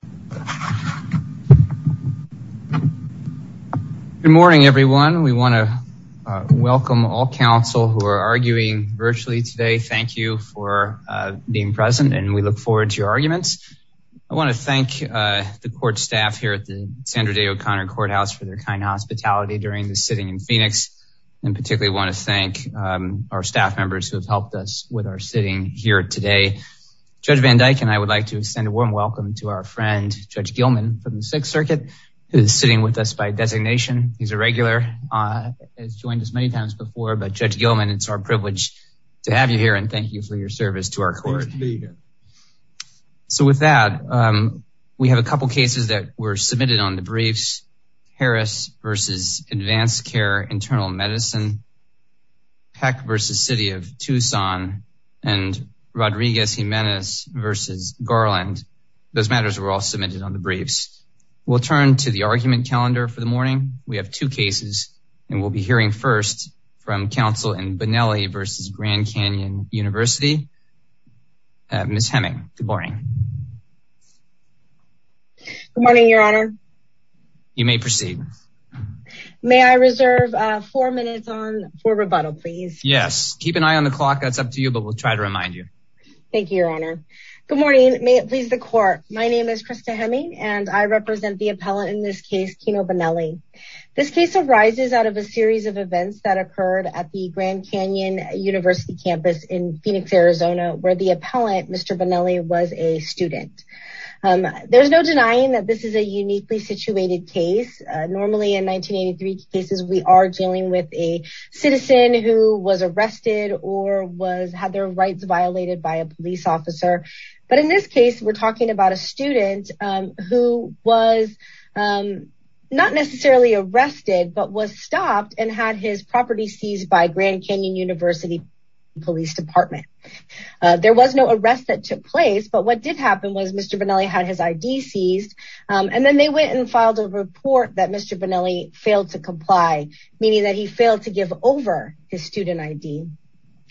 Good morning everyone. We want to welcome all counsel who are arguing virtually today. Thank you for being present and we look forward to your arguments. I want to thank the court staff here at the Sandra Day O'Connor Courthouse for their kind hospitality during the sitting in Phoenix and particularly want to thank our staff members who have helped us with our sitting here today. Judge Van Dyke and I would like to extend a warm welcome to our friend Judge Gilman from the Sixth Circuit who's sitting with us by designation. He's a regular, has joined us many times before, but Judge Gilman it's our privilege to have you here and thank you for your service to our court. So with that, we have a couple cases that were submitted on the briefs. We have two cases and we'll be hearing first from counsel in Bonelli v. Grand Canyon University, Ms. Heming. Good morning. Good morning, your honor. You may proceed. May I reserve four minutes on for rebuttal, please? Yes, keep an eye on the clock. That's up to you, but we'll try to remind you. Thank you, your honor. Good morning. May it please the court. My name is Krista Heming and I represent the appellant in this case, Kino Bonelli. This case arises out of a series of events that occurred at the Grand Canyon University campus in Phoenix, Arizona, where the appellant, Mr. Bonelli, was a student. There's no denying that this is a uniquely situated case. Normally in 1983 cases, we are dealing with a citizen who was arrested or had their rights violated by a police officer. But in this case, we're talking about a student who was not necessarily arrested, but was stopped and had his property seized by Grand Canyon University Police Department. There was no arrest that took place, but what did happen was Mr. Bonelli had his ID seized and then they went and filed a report that Mr. Bonelli failed to comply, meaning that he failed to give over his student ID.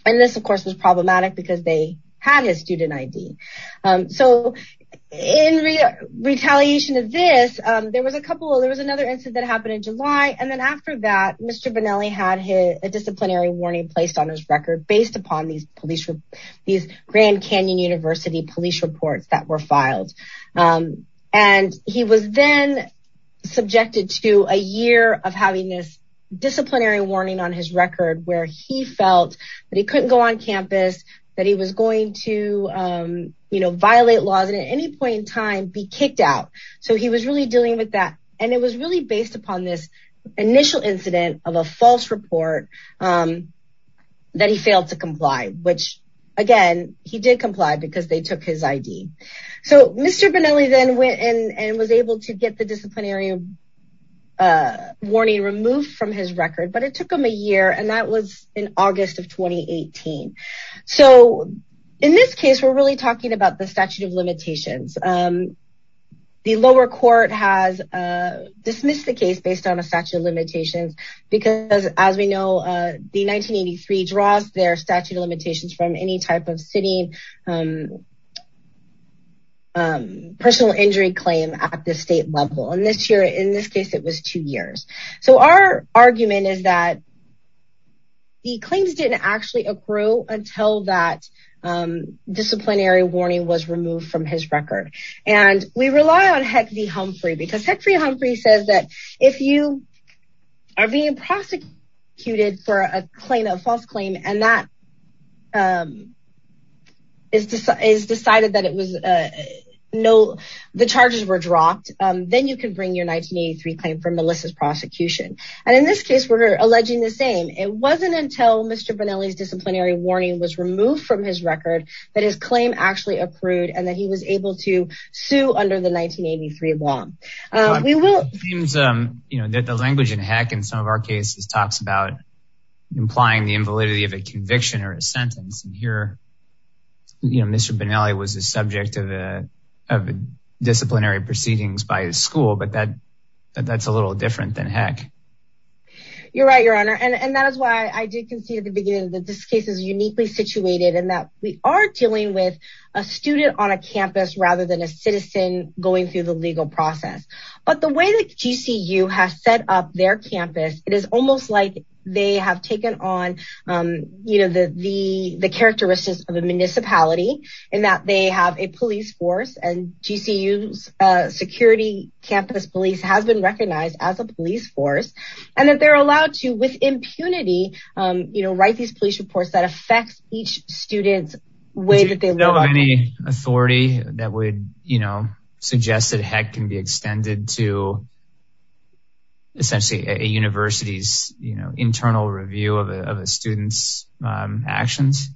And this, of course, was problematic because they had his student ID. So in retaliation of this, there was another incident that happened in July. And then after that, Mr. Bonelli had a disciplinary warning placed on his record based upon these Grand Canyon University police reports that were filed. And he was then subjected to a year of having this disciplinary warning on his record where he felt that he couldn't go on campus, that he was going to any point in time be kicked out. So he was really dealing with that. And it was really based upon this initial incident of a false report that he failed to comply, which again, he did comply because they took his ID. So Mr. Bonelli then went in and was able to get the disciplinary warning removed from his record, but it took him a year and that was in August of 2018. So in this case, we're really talking about the statute of limitations. The lower court has dismissed the case based on a statute of limitations, because as we know, the 1983 draws their statute of limitations from any type of sitting personal injury claim at the state level. And this year, in this case, it was two years. So our argument is that the claims didn't actually accrue until that disciplinary warning was removed from his record. And we rely on Heck V. Humphrey because Heck V. Humphrey says that if you are being prosecuted for a claim, a false claim, and that is decided that the charges were dropped, then you can bring your 1983 claim for Melissa's prosecution. And in this case, we're alleging the same. It wasn't until Mr. Bonelli's disciplinary warning was removed from his record that his claim actually accrued and that he was able to sue under the 1983 law. The language in Heck in some of our cases talks about implying the invalidity of a conviction or a sentence. And here, Mr. Bonelli was the subject of disciplinary proceedings by his school, but that's a little different than Heck. You're right, your honor. And that is why I did concede at the beginning that this case is uniquely situated and that we are dealing with a student on a campus rather than a citizen going through the legal process. But the way that GCU has set up their campus, it is almost like they have taken on the characteristics of a municipality in that they have a police force and GCU's security campus police has been recognized as a police force and that they're allowed to, with impunity, write these police reports that affects each student's way that they live. Is there still any authority that would suggest that Heck can be extended to essentially a university's internal review of a student's actions?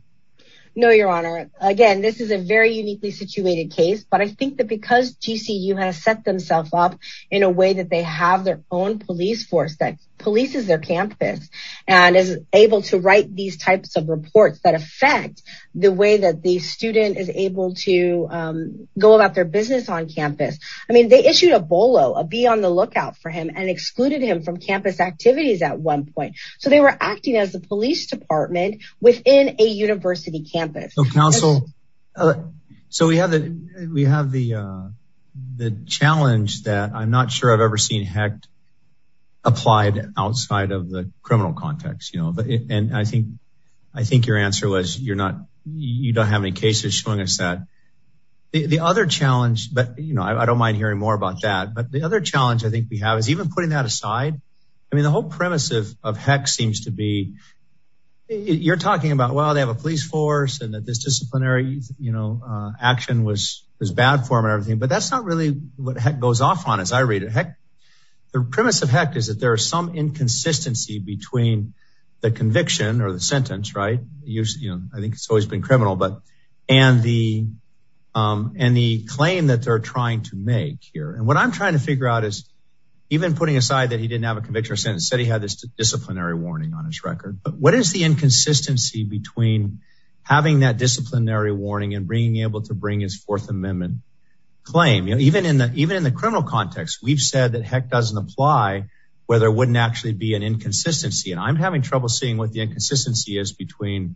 No, your honor. Again, this is a very uniquely situated case, but I think that because GCU has set themselves up in a way that they have their own police force that polices their campus and is able to write these types of reports that affect the way that the student is able to go about their business on campus. I mean, they issued a BOLO, a be on the lookout for him and excluded him from campus activities at one point. So they were acting as the police department within a university campus. Counsel, so we have the challenge that I'm not sure I've ever seen Hecht applied outside of the criminal context. And I think your answer was you don't have any showing us that the other challenge, but I don't mind hearing more about that. But the other challenge I think we have is even putting that aside. I mean, the whole premise of Heck seems to be you're talking about, well, they have a police force and that this disciplinary action was bad for him and everything, but that's not really what Heck goes off on as I read it. Heck, the premise of Heck is that there are some inconsistency between the conviction or the and the claim that they're trying to make here. And what I'm trying to figure out is even putting aside that he didn't have a conviction or sentence said he had this disciplinary warning on his record, but what is the inconsistency between having that disciplinary warning and being able to bring his fourth amendment claim? Even in the criminal context, we've said that Heck doesn't apply where there wouldn't actually be an inconsistency. And I'm having trouble seeing what the inconsistency is between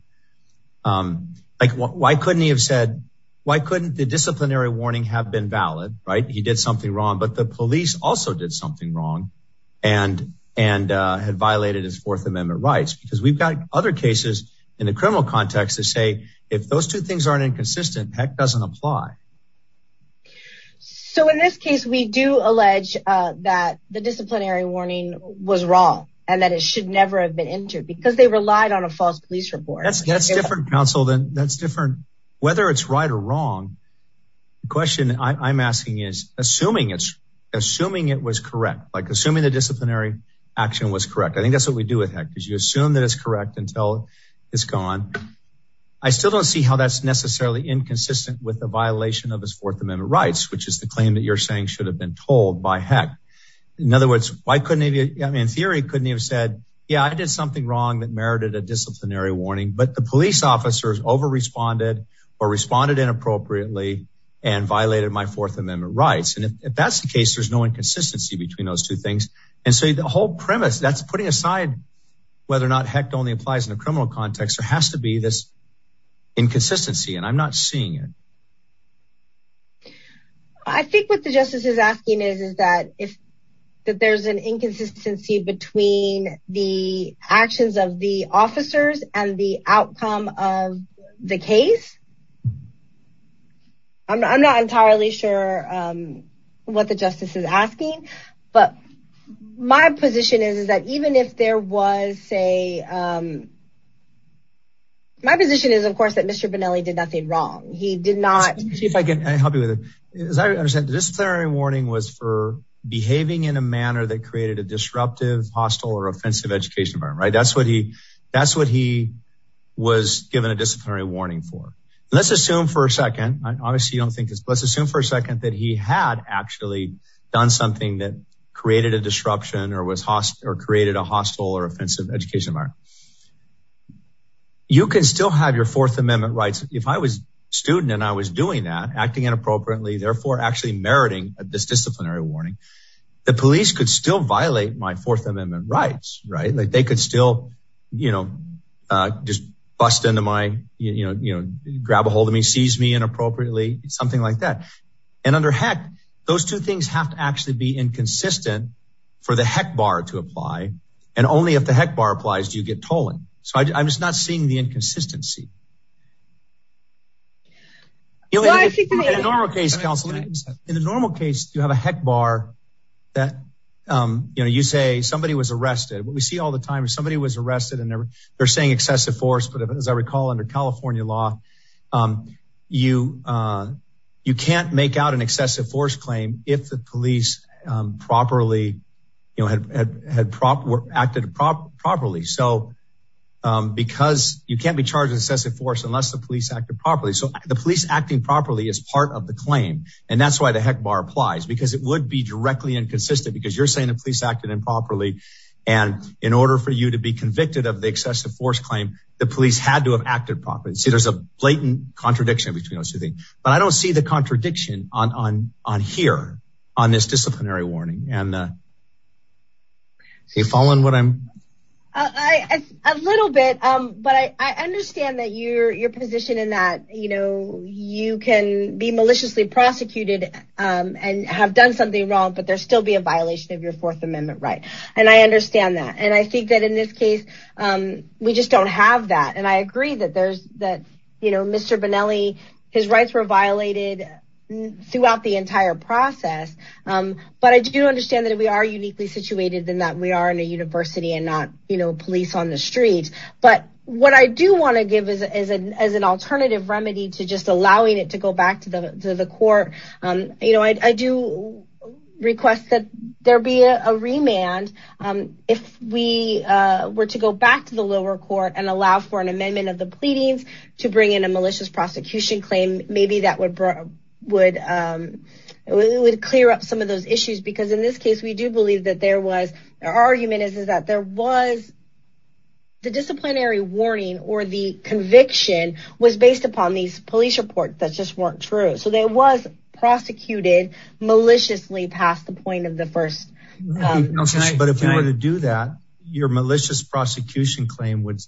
like why couldn't he have said, why couldn't the disciplinary warning have been valid, right? He did something wrong, but the police also did something wrong and had violated his fourth amendment rights because we've got other cases in the criminal context to say, if those two things aren't inconsistent, Heck doesn't apply. So in this case, we do allege that the disciplinary warning was wrong and that it should never have been entered because they relied on a false police report. That's different counsel than that's different, whether it's right or wrong. The question I'm asking is assuming it's assuming it was correct, like assuming the disciplinary action was correct. I think that's what we do with Heck because you assume that it's correct until it's gone. I still don't see how that's necessarily inconsistent with the violation of his fourth amendment rights, which is the claim that you're saying should have been told by Heck. In other words, why couldn't he, I mean, in theory, couldn't he have said, yeah, I did something wrong that merited a disciplinary warning, but the police officers over-responded or responded inappropriately and violated my fourth amendment rights. And if that's the case, there's no inconsistency between those two things. And so the whole premise that's putting aside, whether or not Heck only applies in a criminal context, there has to be this inconsistency and I'm not seeing it. I think what the justice is asking is, is that if there's an inconsistency between the actions of the officers and the outcome of the case, I'm not entirely sure what the justice is asking, but my position is, is that even if there was say, my position is of course, that Mr. Benelli did nothing wrong. He did not. Chief, I can help you with it. As I understand, disciplinary warning was for behaving in a manner that created a disruptive, hostile, or offensive education environment, right? That's what he, that's what he was given a disciplinary warning for. And let's assume for a second, obviously you don't think this, but let's assume for a second that he had actually done something that created a disruption or created a hostile or offensive education environment. You can still have your fourth amendment rights. If I was a student and I was doing that, acting inappropriately, therefore actually meriting this disciplinary warning, the police could still violate my fourth amendment rights, right? Like they could still, you know, just bust into my, you know, you know, grab ahold of me, seize me inappropriately, something like that. And under heck, those two things have to actually be inconsistent for the heck bar to apply. And only if the heck bar applies, do you get tolling. So I'm just not seeing the inconsistency. In a normal case, counsel, in a normal case, you have a heck bar that, you know, you say somebody was arrested. What we see all the time is somebody was arrested and they're saying excessive force. But if, as I recall, under California law, you can't make out an excessive force claim if the police properly, you know, had acted properly. So because you can't be charged excessive force unless the police acted properly. So the police acting properly is part of the claim. And that's why the heck bar applies, because it would be directly inconsistent because you're saying the police acted improperly. And in order for you to be convicted of the excessive force claim, the police had to have acted properly. So there's a blatant contradiction between those two things. But I don't see the contradiction on here, on this disciplinary warning. And your position in that, you know, you can be maliciously prosecuted and have done something wrong, but there still be a violation of your Fourth Amendment right. And I understand that. And I think that in this case, we just don't have that. And I agree that there's that, you know, Mr. Bonelli, his rights were violated throughout the entire process. But I do understand that we are uniquely situated in that we are in a university and not, you know, police on the streets. But what I do want to give as an alternative remedy to just allowing it to go back to the court, you know, I do request that there be a remand. If we were to go back to the lower court and allow for an amendment of the pleadings to bring in a malicious prosecution claim, maybe that would clear up some of those issues. Because in this case, we do believe that there was an argument is that there was the disciplinary warning or the conviction was based upon these police reports that just weren't true. So there was prosecuted maliciously past the point of the first. But if we were to do that, your malicious prosecution claim would,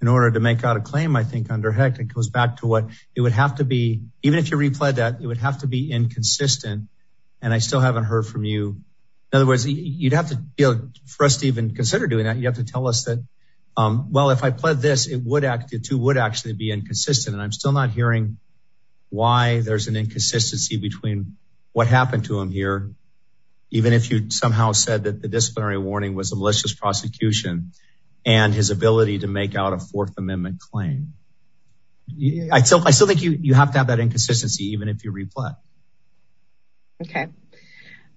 in order to make out a claim, I think under HECT, it goes back to what it would have to be, even if you replayed that, it would have to be inconsistent. And I still haven't heard from you. In other words, you'd have to deal for us to even consider doing that. You have to tell us that, well, if I pled this, it would act, it would actually be inconsistent. And I'm still not hearing why there's an inconsistency between what happened to him here, even if you somehow said that the disciplinary warning was a malicious prosecution and his ability to make out a fourth amendment claim. I still think you have to have that inconsistency, even if you replay. Okay.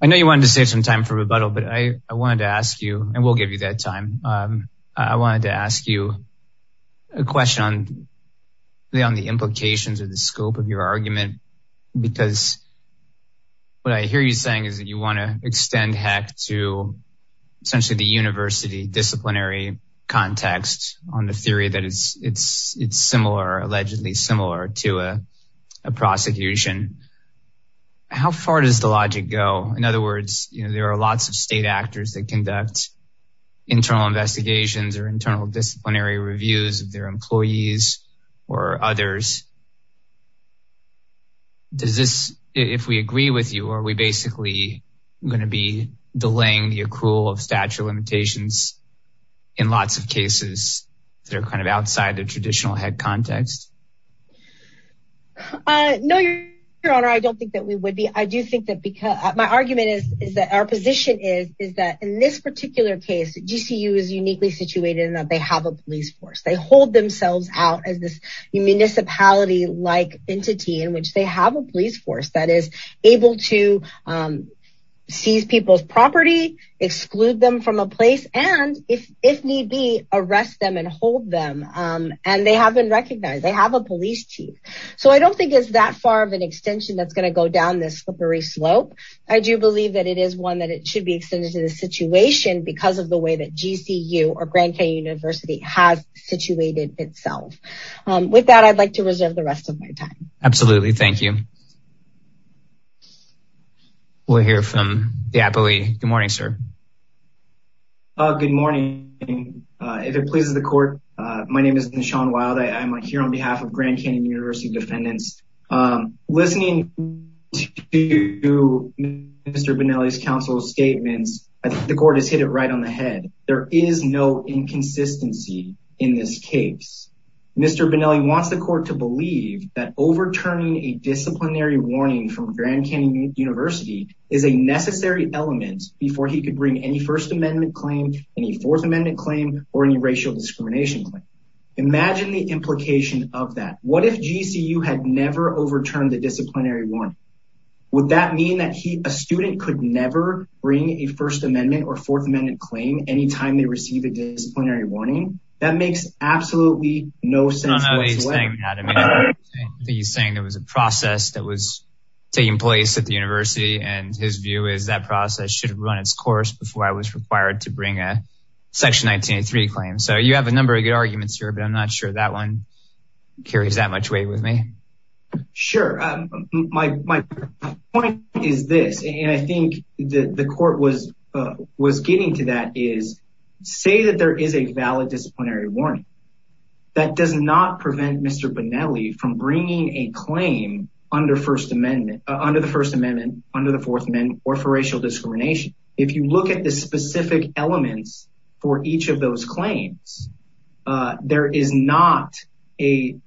I know you wanted to save some time for rebuttal, but I wanted to ask you, and we'll give you that time. I wanted to ask you a question on the implications of the scope of your argument, because what I hear you saying is that you want to extend HECT to essentially the university disciplinary context on the theory that it's similar, allegedly similar, to a prosecution. How far does the logic go? In other words, there are lots of state actors that conduct internal investigations or internal disciplinary reviews of their employees or others. Does this, if we agree with you, are we basically going to be delaying the accrual of statute limitations in lots of cases that are kind of outside the traditional HECT context? No, your honor, I don't think that we would be. I do think that because my argument is that our position is that in this particular case, GCU is uniquely situated in that they have a police force. They hold themselves out as this municipality-like entity in which they have a police force that is and if need be, arrest them and hold them. They have been recognized. They have a police chief. So I don't think it's that far of an extension that's going to go down this slippery slope. I do believe that it is one that it should be extended to the situation because of the way that GCU or Grand Canyon University has situated itself. With that, I'd like to reserve the rest of my time. Absolutely. Thank you. We'll hear from the appellee. Good morning, sir. Good morning. If it pleases the court, my name is Nishan Wild. I'm here on behalf of Grand Canyon University defendants. Listening to Mr. Bonelli's counsel's statements, the court has hit it right on the head. There is no inconsistency in this case. Mr. Bonelli wants the court to believe that overturning a disciplinary warning from Grand Canyon University is a necessary element before he could bring any First Amendment claim, any Fourth Amendment claim, or any racial discrimination claim. Imagine the implication of that. What if GCU had never overturned the disciplinary warning? Would that mean that a student could never bring a First Amendment or Fourth Amendment claim anytime they receive a disciplinary warning? That makes absolutely no sense whatsoever. He's saying there was a process that was taking place at the university and his view is that process should have run its course before I was required to bring a Section 1983 claim. So you have a number of good arguments here, but I'm not sure that one carries that much weight with me. Sure. My point is this, and I think the court was getting to that, is say that there is a valid disciplinary warning. That does not prevent Mr. Bonelli from bringing a claim under the First Amendment, under the Fourth Amendment or for racial discrimination. If you look at the specific elements for each of those claims, there is not a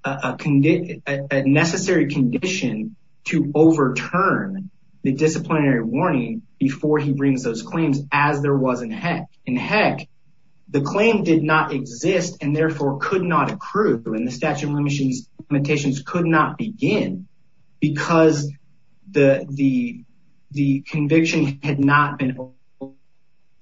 necessary condition to overturn the disciplinary warning before he brings those in. Heck, the claim did not exist and therefore could not accrue and the statute of limitations could not begin because the conviction had not been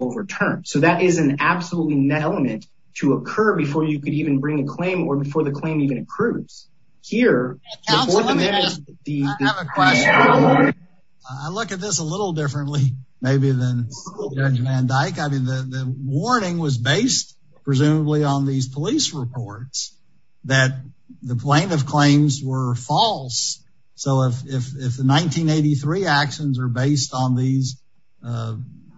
overturned. So that is an absolutely net element to occur before you could even bring a claim or before the claim even accrues. Here, I have a question. I look at this a little differently maybe than Judge Van Dyck. I mean, the warning was based presumably on these police reports that the plaintiff claims were false. So if the 1983 actions are based on these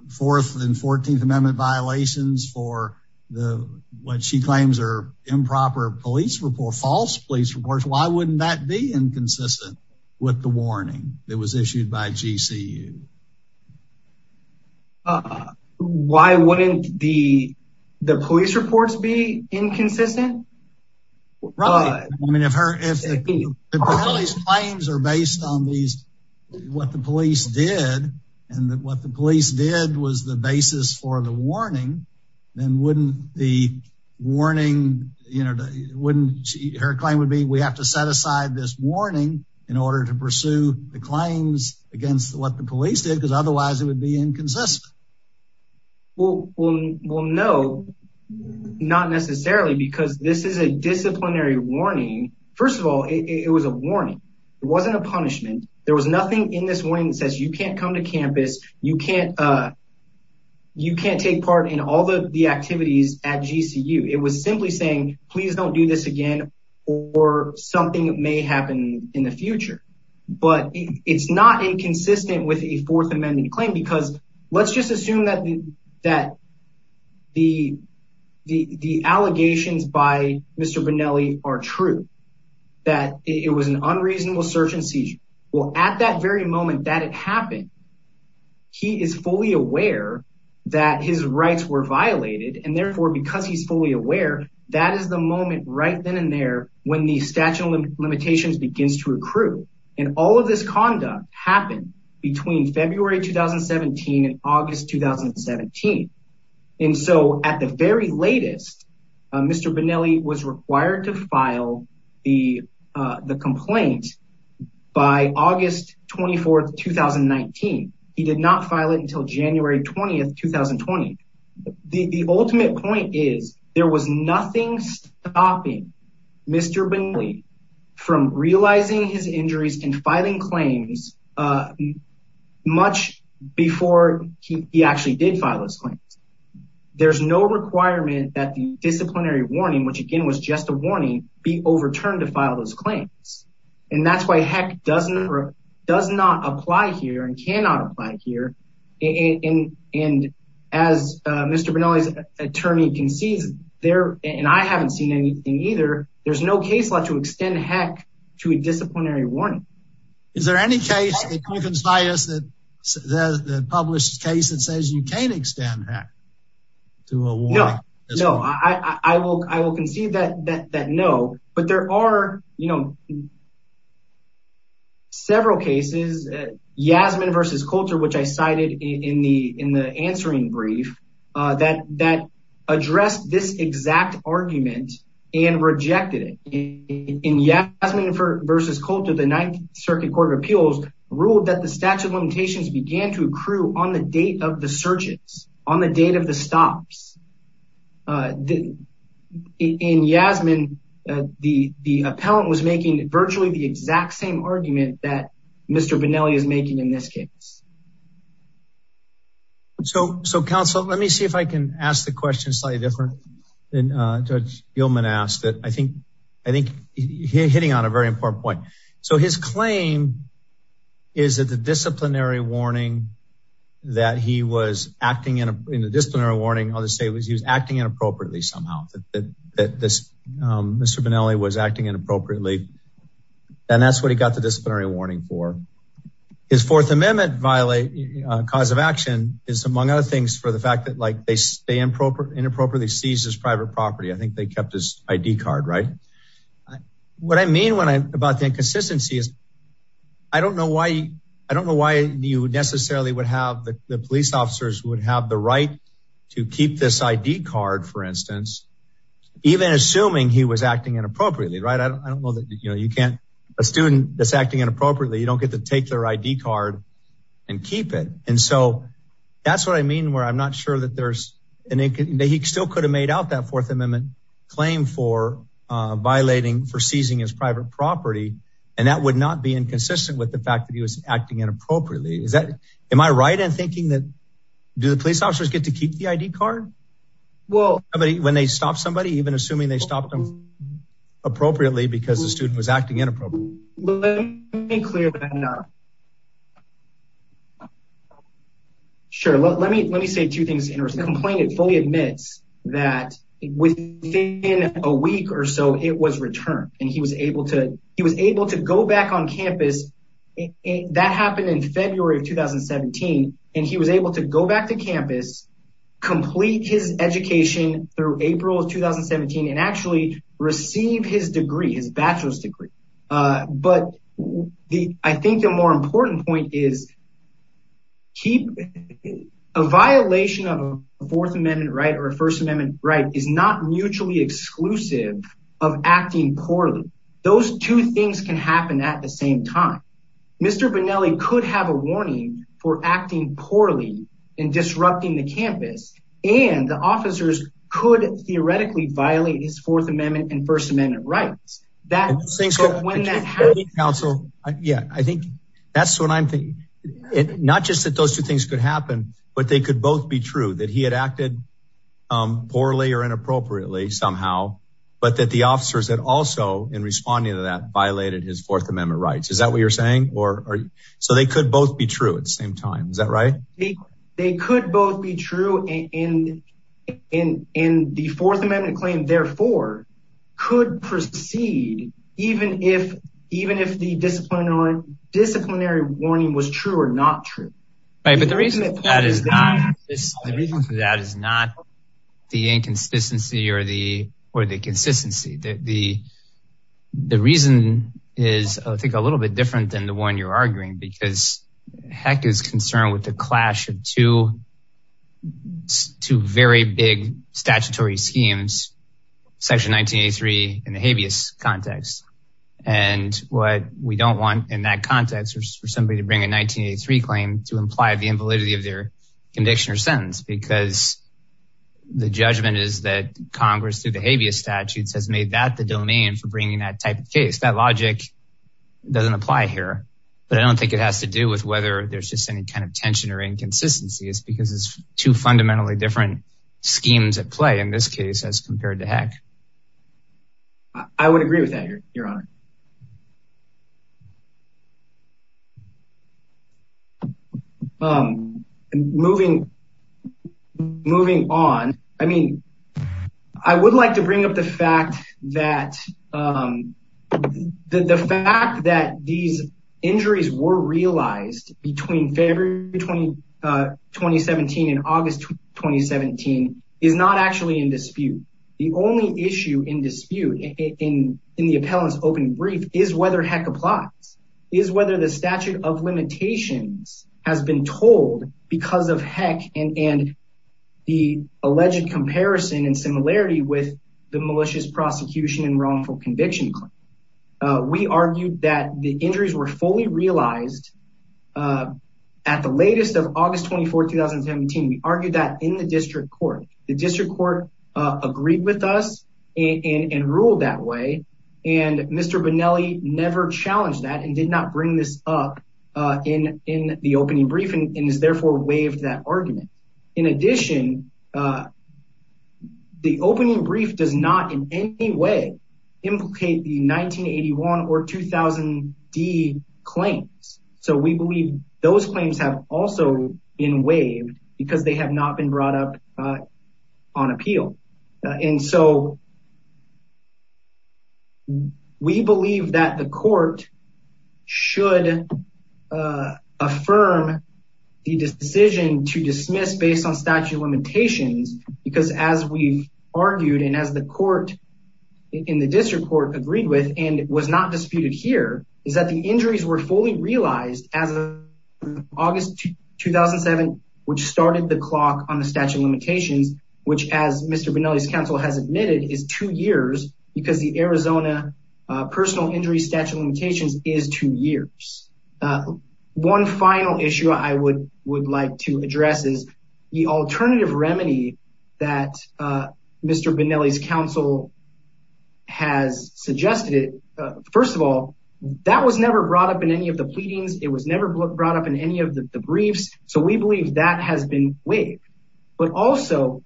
Fourth and Fourteenth Amendment violations for what she claims are improper police reports, false police reports, why wouldn't that be inconsistent with the warning that was issued by GCU? Why wouldn't the police reports be inconsistent? Right. I mean, if the police claims are based on what the police did and what the police did was the basis for the warning, then her claim would be we have to set aside this warning in order to pursue the claims against what the police did because otherwise it would be inconsistent. Well, no, not necessarily because this is a disciplinary warning. First of all, it was a warning. It wasn't a punishment. There was nothing in this warning that says you can't come to campus. You can't take part in all the activities at GCU. It was simply saying, please don't do this again or something may happen in the future. But it's not inconsistent with a Fourth Amendment claim because let's just assume that the allegations by Mr. Bonelli are true, that it was an unreasonable search and seizure. Well, at that very moment that it happened, he is fully aware that his rights were violated. And therefore, because he's fully aware, that is the moment right then and there when the statute of limitations begins to accrue. And all of this conduct happened between February 2017 and August 2017. And so at the very latest, Mr. Bonelli was required to file the complaint by August 24th, 2019. He did not file it until January 20th, 2020. The ultimate point is there was nothing stopping Mr. Bonelli from realizing his injuries and filing claims much before he actually did file his claims. There's no requirement that the disciplinary warning, which again was just a warning, be overturned to file those claims. And that's why HEC does not apply here and cannot apply here. And as Mr. Bonelli's attorney concedes there, and I haven't seen anything either. There's no case law to extend HEC to a disciplinary warning. Is there any case that you can say that the published case that says you can extend HEC to a warning? No, I will concede that no, but there are, you know, several cases, Yasmin v. Coulter, which I cited in the answering brief, that addressed this exact argument and rejected it. In Yasmin v. Coulter, the Ninth Circuit Court of Appeals ruled that statute of limitations began to accrue on the date of the surges, on the date of the stops. In Yasmin, the appellant was making virtually the exact same argument that Mr. Bonelli is making in this case. So counsel, let me see if I can ask the question slightly different than Judge Gilman asked. I think he's hitting on a very important point. So his claim is that the disciplinary warning that he was acting in a disciplinary warning, I'll just say was he was acting inappropriately somehow, that Mr. Bonelli was acting inappropriately. And that's what he got the disciplinary warning for. His Fourth Amendment cause of action is among other things for the fact that like they inappropriately seized his private property. I think they kept his ID card, right? What I mean about the inconsistency is, I don't know why you necessarily would have, the police officers would have the right to keep this ID card, for instance, even assuming he was acting inappropriately, right? I don't know that you can't, a student that's acting inappropriately, you don't get to take their ID card and keep it. And so that's what I mean where I'm not sure that there's, he still could have made out that Fourth Amendment claim for violating, for seizing his private property. And that would not be inconsistent with the fact that he was acting inappropriately. Is that, am I right in thinking that, do the police officers get to keep the ID card? When they stop somebody, even assuming they stopped them appropriately because the that within a week or so it was returned and he was able to, he was able to go back on campus. That happened in February of 2017. And he was able to go back to campus, complete his education through April of 2017 and actually receive his degree, his bachelor's degree. But the, I think the more important point is a violation of a Fourth Amendment right or a First Amendment right is not mutually exclusive of acting poorly. Those two things can happen at the same time. Mr. Bonelli could have a warning for acting poorly and disrupting the campus and the officers could theoretically violate his Fourth Amendment and First Amendment rights. That when that happens. Yeah, I think that's what I'm thinking. Not just that those two things could happen, but they could both be true that he had acted poorly or inappropriately somehow, but that the officers that also in responding to that violated his Fourth Amendment rights. Is that what you're saying? Or are you, so they could both be true at the same time. Is that right? They could both be true and in the Fourth Amendment claim, therefore, could proceed, even if the disciplinary warning was true or not true. Right, but the reason for that is not the inconsistency or the consistency. The reason is, I think, a little bit different than the one you're arguing because heck is concerned with the clash of two very big statutory schemes. Section 1983 in the habeas context and what we don't want in that context is for somebody to bring a 1983 claim to imply the invalidity of their condition or sentence because the judgment is that Congress through the habeas statutes has made that the domain for bringing that type of That logic doesn't apply here, but I don't think it has to do with whether there's just any kind of tension or inconsistencies because it's two fundamentally different schemes at play in this case, as compared to heck. I would agree with that, your honor. Moving on, I mean, I would like to bring up the fact that the fact that these injuries were realized between February 2017 and August 2017 is not actually in dispute. The only issue in dispute in the appellant's open brief is whether heck applies, is whether the statute of limitations has been told because of heck and the alleged comparison and similarity with the malicious prosecution and wrongful conviction claim. We argued that the injuries were fully realized at the latest of August 24, 2017. We argued that in the district court, the district court agreed with us and ruled that way. And Mr. Bonelli never challenged that and did not bring this up in the opening brief and is therefore waived that argument. In addition, the opening brief does not in any way implicate the 1981 or 2000D claims. So we believe those claims have also been waived because they have not been brought up on appeal. And so we believe that the court should affirm the decision to dismiss based on statute of limitations, because as we've argued and as the court in the district court agreed with, and was not disputed here, is that the injuries were fully realized as of August 2007, which started the clock on the statute of limitations, which as Mr. Bonelli's counsel has admitted is two years because the Arizona personal injury statute of limitations is two years. One final issue I would like to address is the alternative remedy that Mr. Bonelli's counsel has suggested. First of all, that was never brought up in any of the pleadings. It was never brought up in any of the briefs. So we believe that has been waived, but also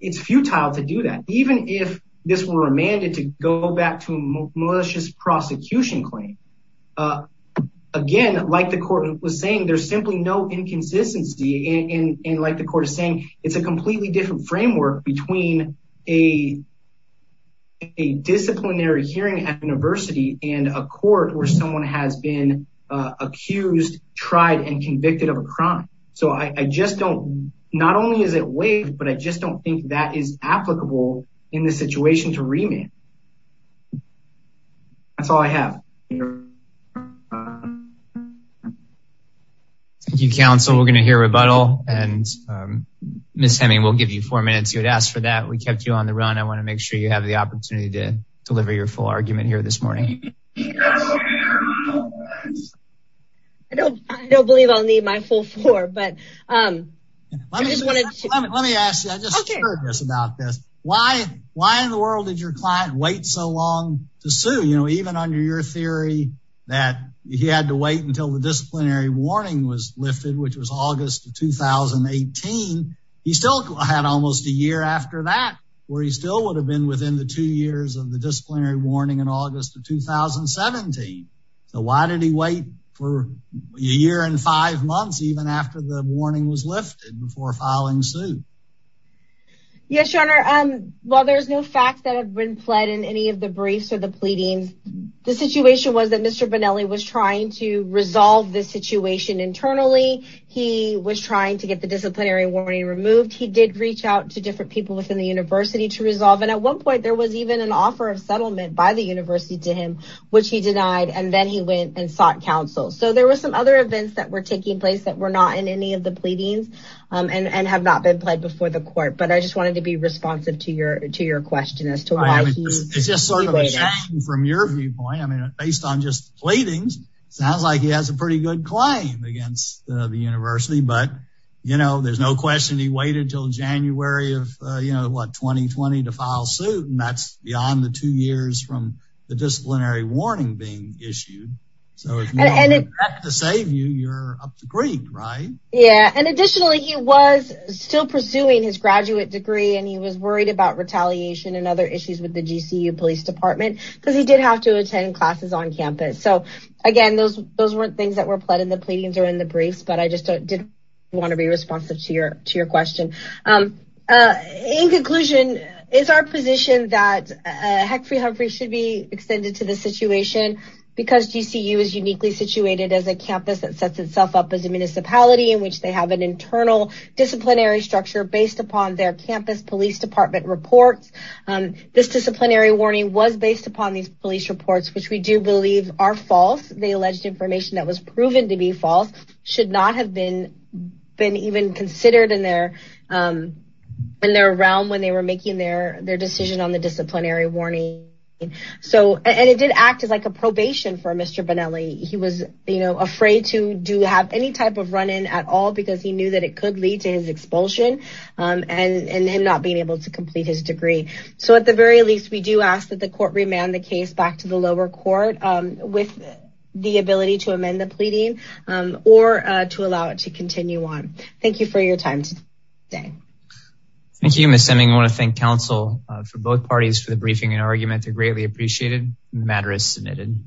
it's futile to do that. Even if this were remanded to go back to malicious prosecution claim, again, like the court was saying, there's simply no inconsistency. And like the court is saying, it's a completely different framework between a disciplinary hearing at university and a court where someone has been accused, tried and convicted of a crime. So I just don't, not only is it waived, but I just don't think that is applicable in this situation to remand. That's all I have. Thank you, counsel. We're going to hear rebuttal and Ms. Heming, we'll give you four minutes. You had asked for that. We kept you on the run. I want to make sure you have the opportunity to deliver your full argument here this morning. I don't believe I'll need my full four, but I just wanted to. Let me ask you, I just heard this about this. Why in the world did your client wait so long to sue? Even under your theory that he had to wait until the disciplinary warning was lifted, which was August of 2018, he still had almost a year after that where he still would have been within the two years of the disciplinary warning in August of 2017. So why did he wait for a year and five months even after the warning was lifted before filing suit? Yes, your honor. While there's no facts that have been pled in any of the briefs or the pleading, the situation was that Mr. Bonelli was trying to resolve this situation internally. He was trying to get the disciplinary warning removed. He did reach out to different people within the university to resolve. And at one point there was even an offer of settlement by the university to him, which he denied. And then he went and sought counsel. So there were some other events that were taking place that were not in any of the pleadings and have not been played before the court. But I just wanted to be responsive to your question as to why he waited. It's just sort of from your viewpoint. I mean, based on just pleadings, sounds like he has a pretty good claim against the university. But, you know, there's no question he waited until January of 2020 to file suit. And that's beyond the two years from the disciplinary warning being issued. So to save you, you're up to green, right? Yeah. And additionally, he was still pursuing his graduate degree and he was worried about retaliation and other issues with the GCU police department because he did have to attend classes on campus. So, again, those weren't things that were pled in the pleadings or in the briefs, but I just did want to be responsive to your question. In conclusion, is our position that Huckabee Humphrey should be extended to the situation because GCU is uniquely situated as a campus that sets itself up as a municipality in which they have an internal disciplinary structure based upon their campus police department reports. This disciplinary warning was based upon these police reports, which we do believe are false. The alleged information that was proven to be false should not have been even considered in their realm when they were making their decision on the disciplinary warning. And it did act as a probation for Mr. Bonelli. He was afraid to have any type of run-in at all because he knew that it could lead to his expulsion and him not being able to complete his degree. So at the very least, we do ask that the court remand the case back to the lower court with the ability to amend the pleading or to allow it to continue on. Thank you for your time today. Thank you, Ms. Seming. I want to thank counsel for both parties for the briefing and argument. They're greatly appreciated. The matter is submitted.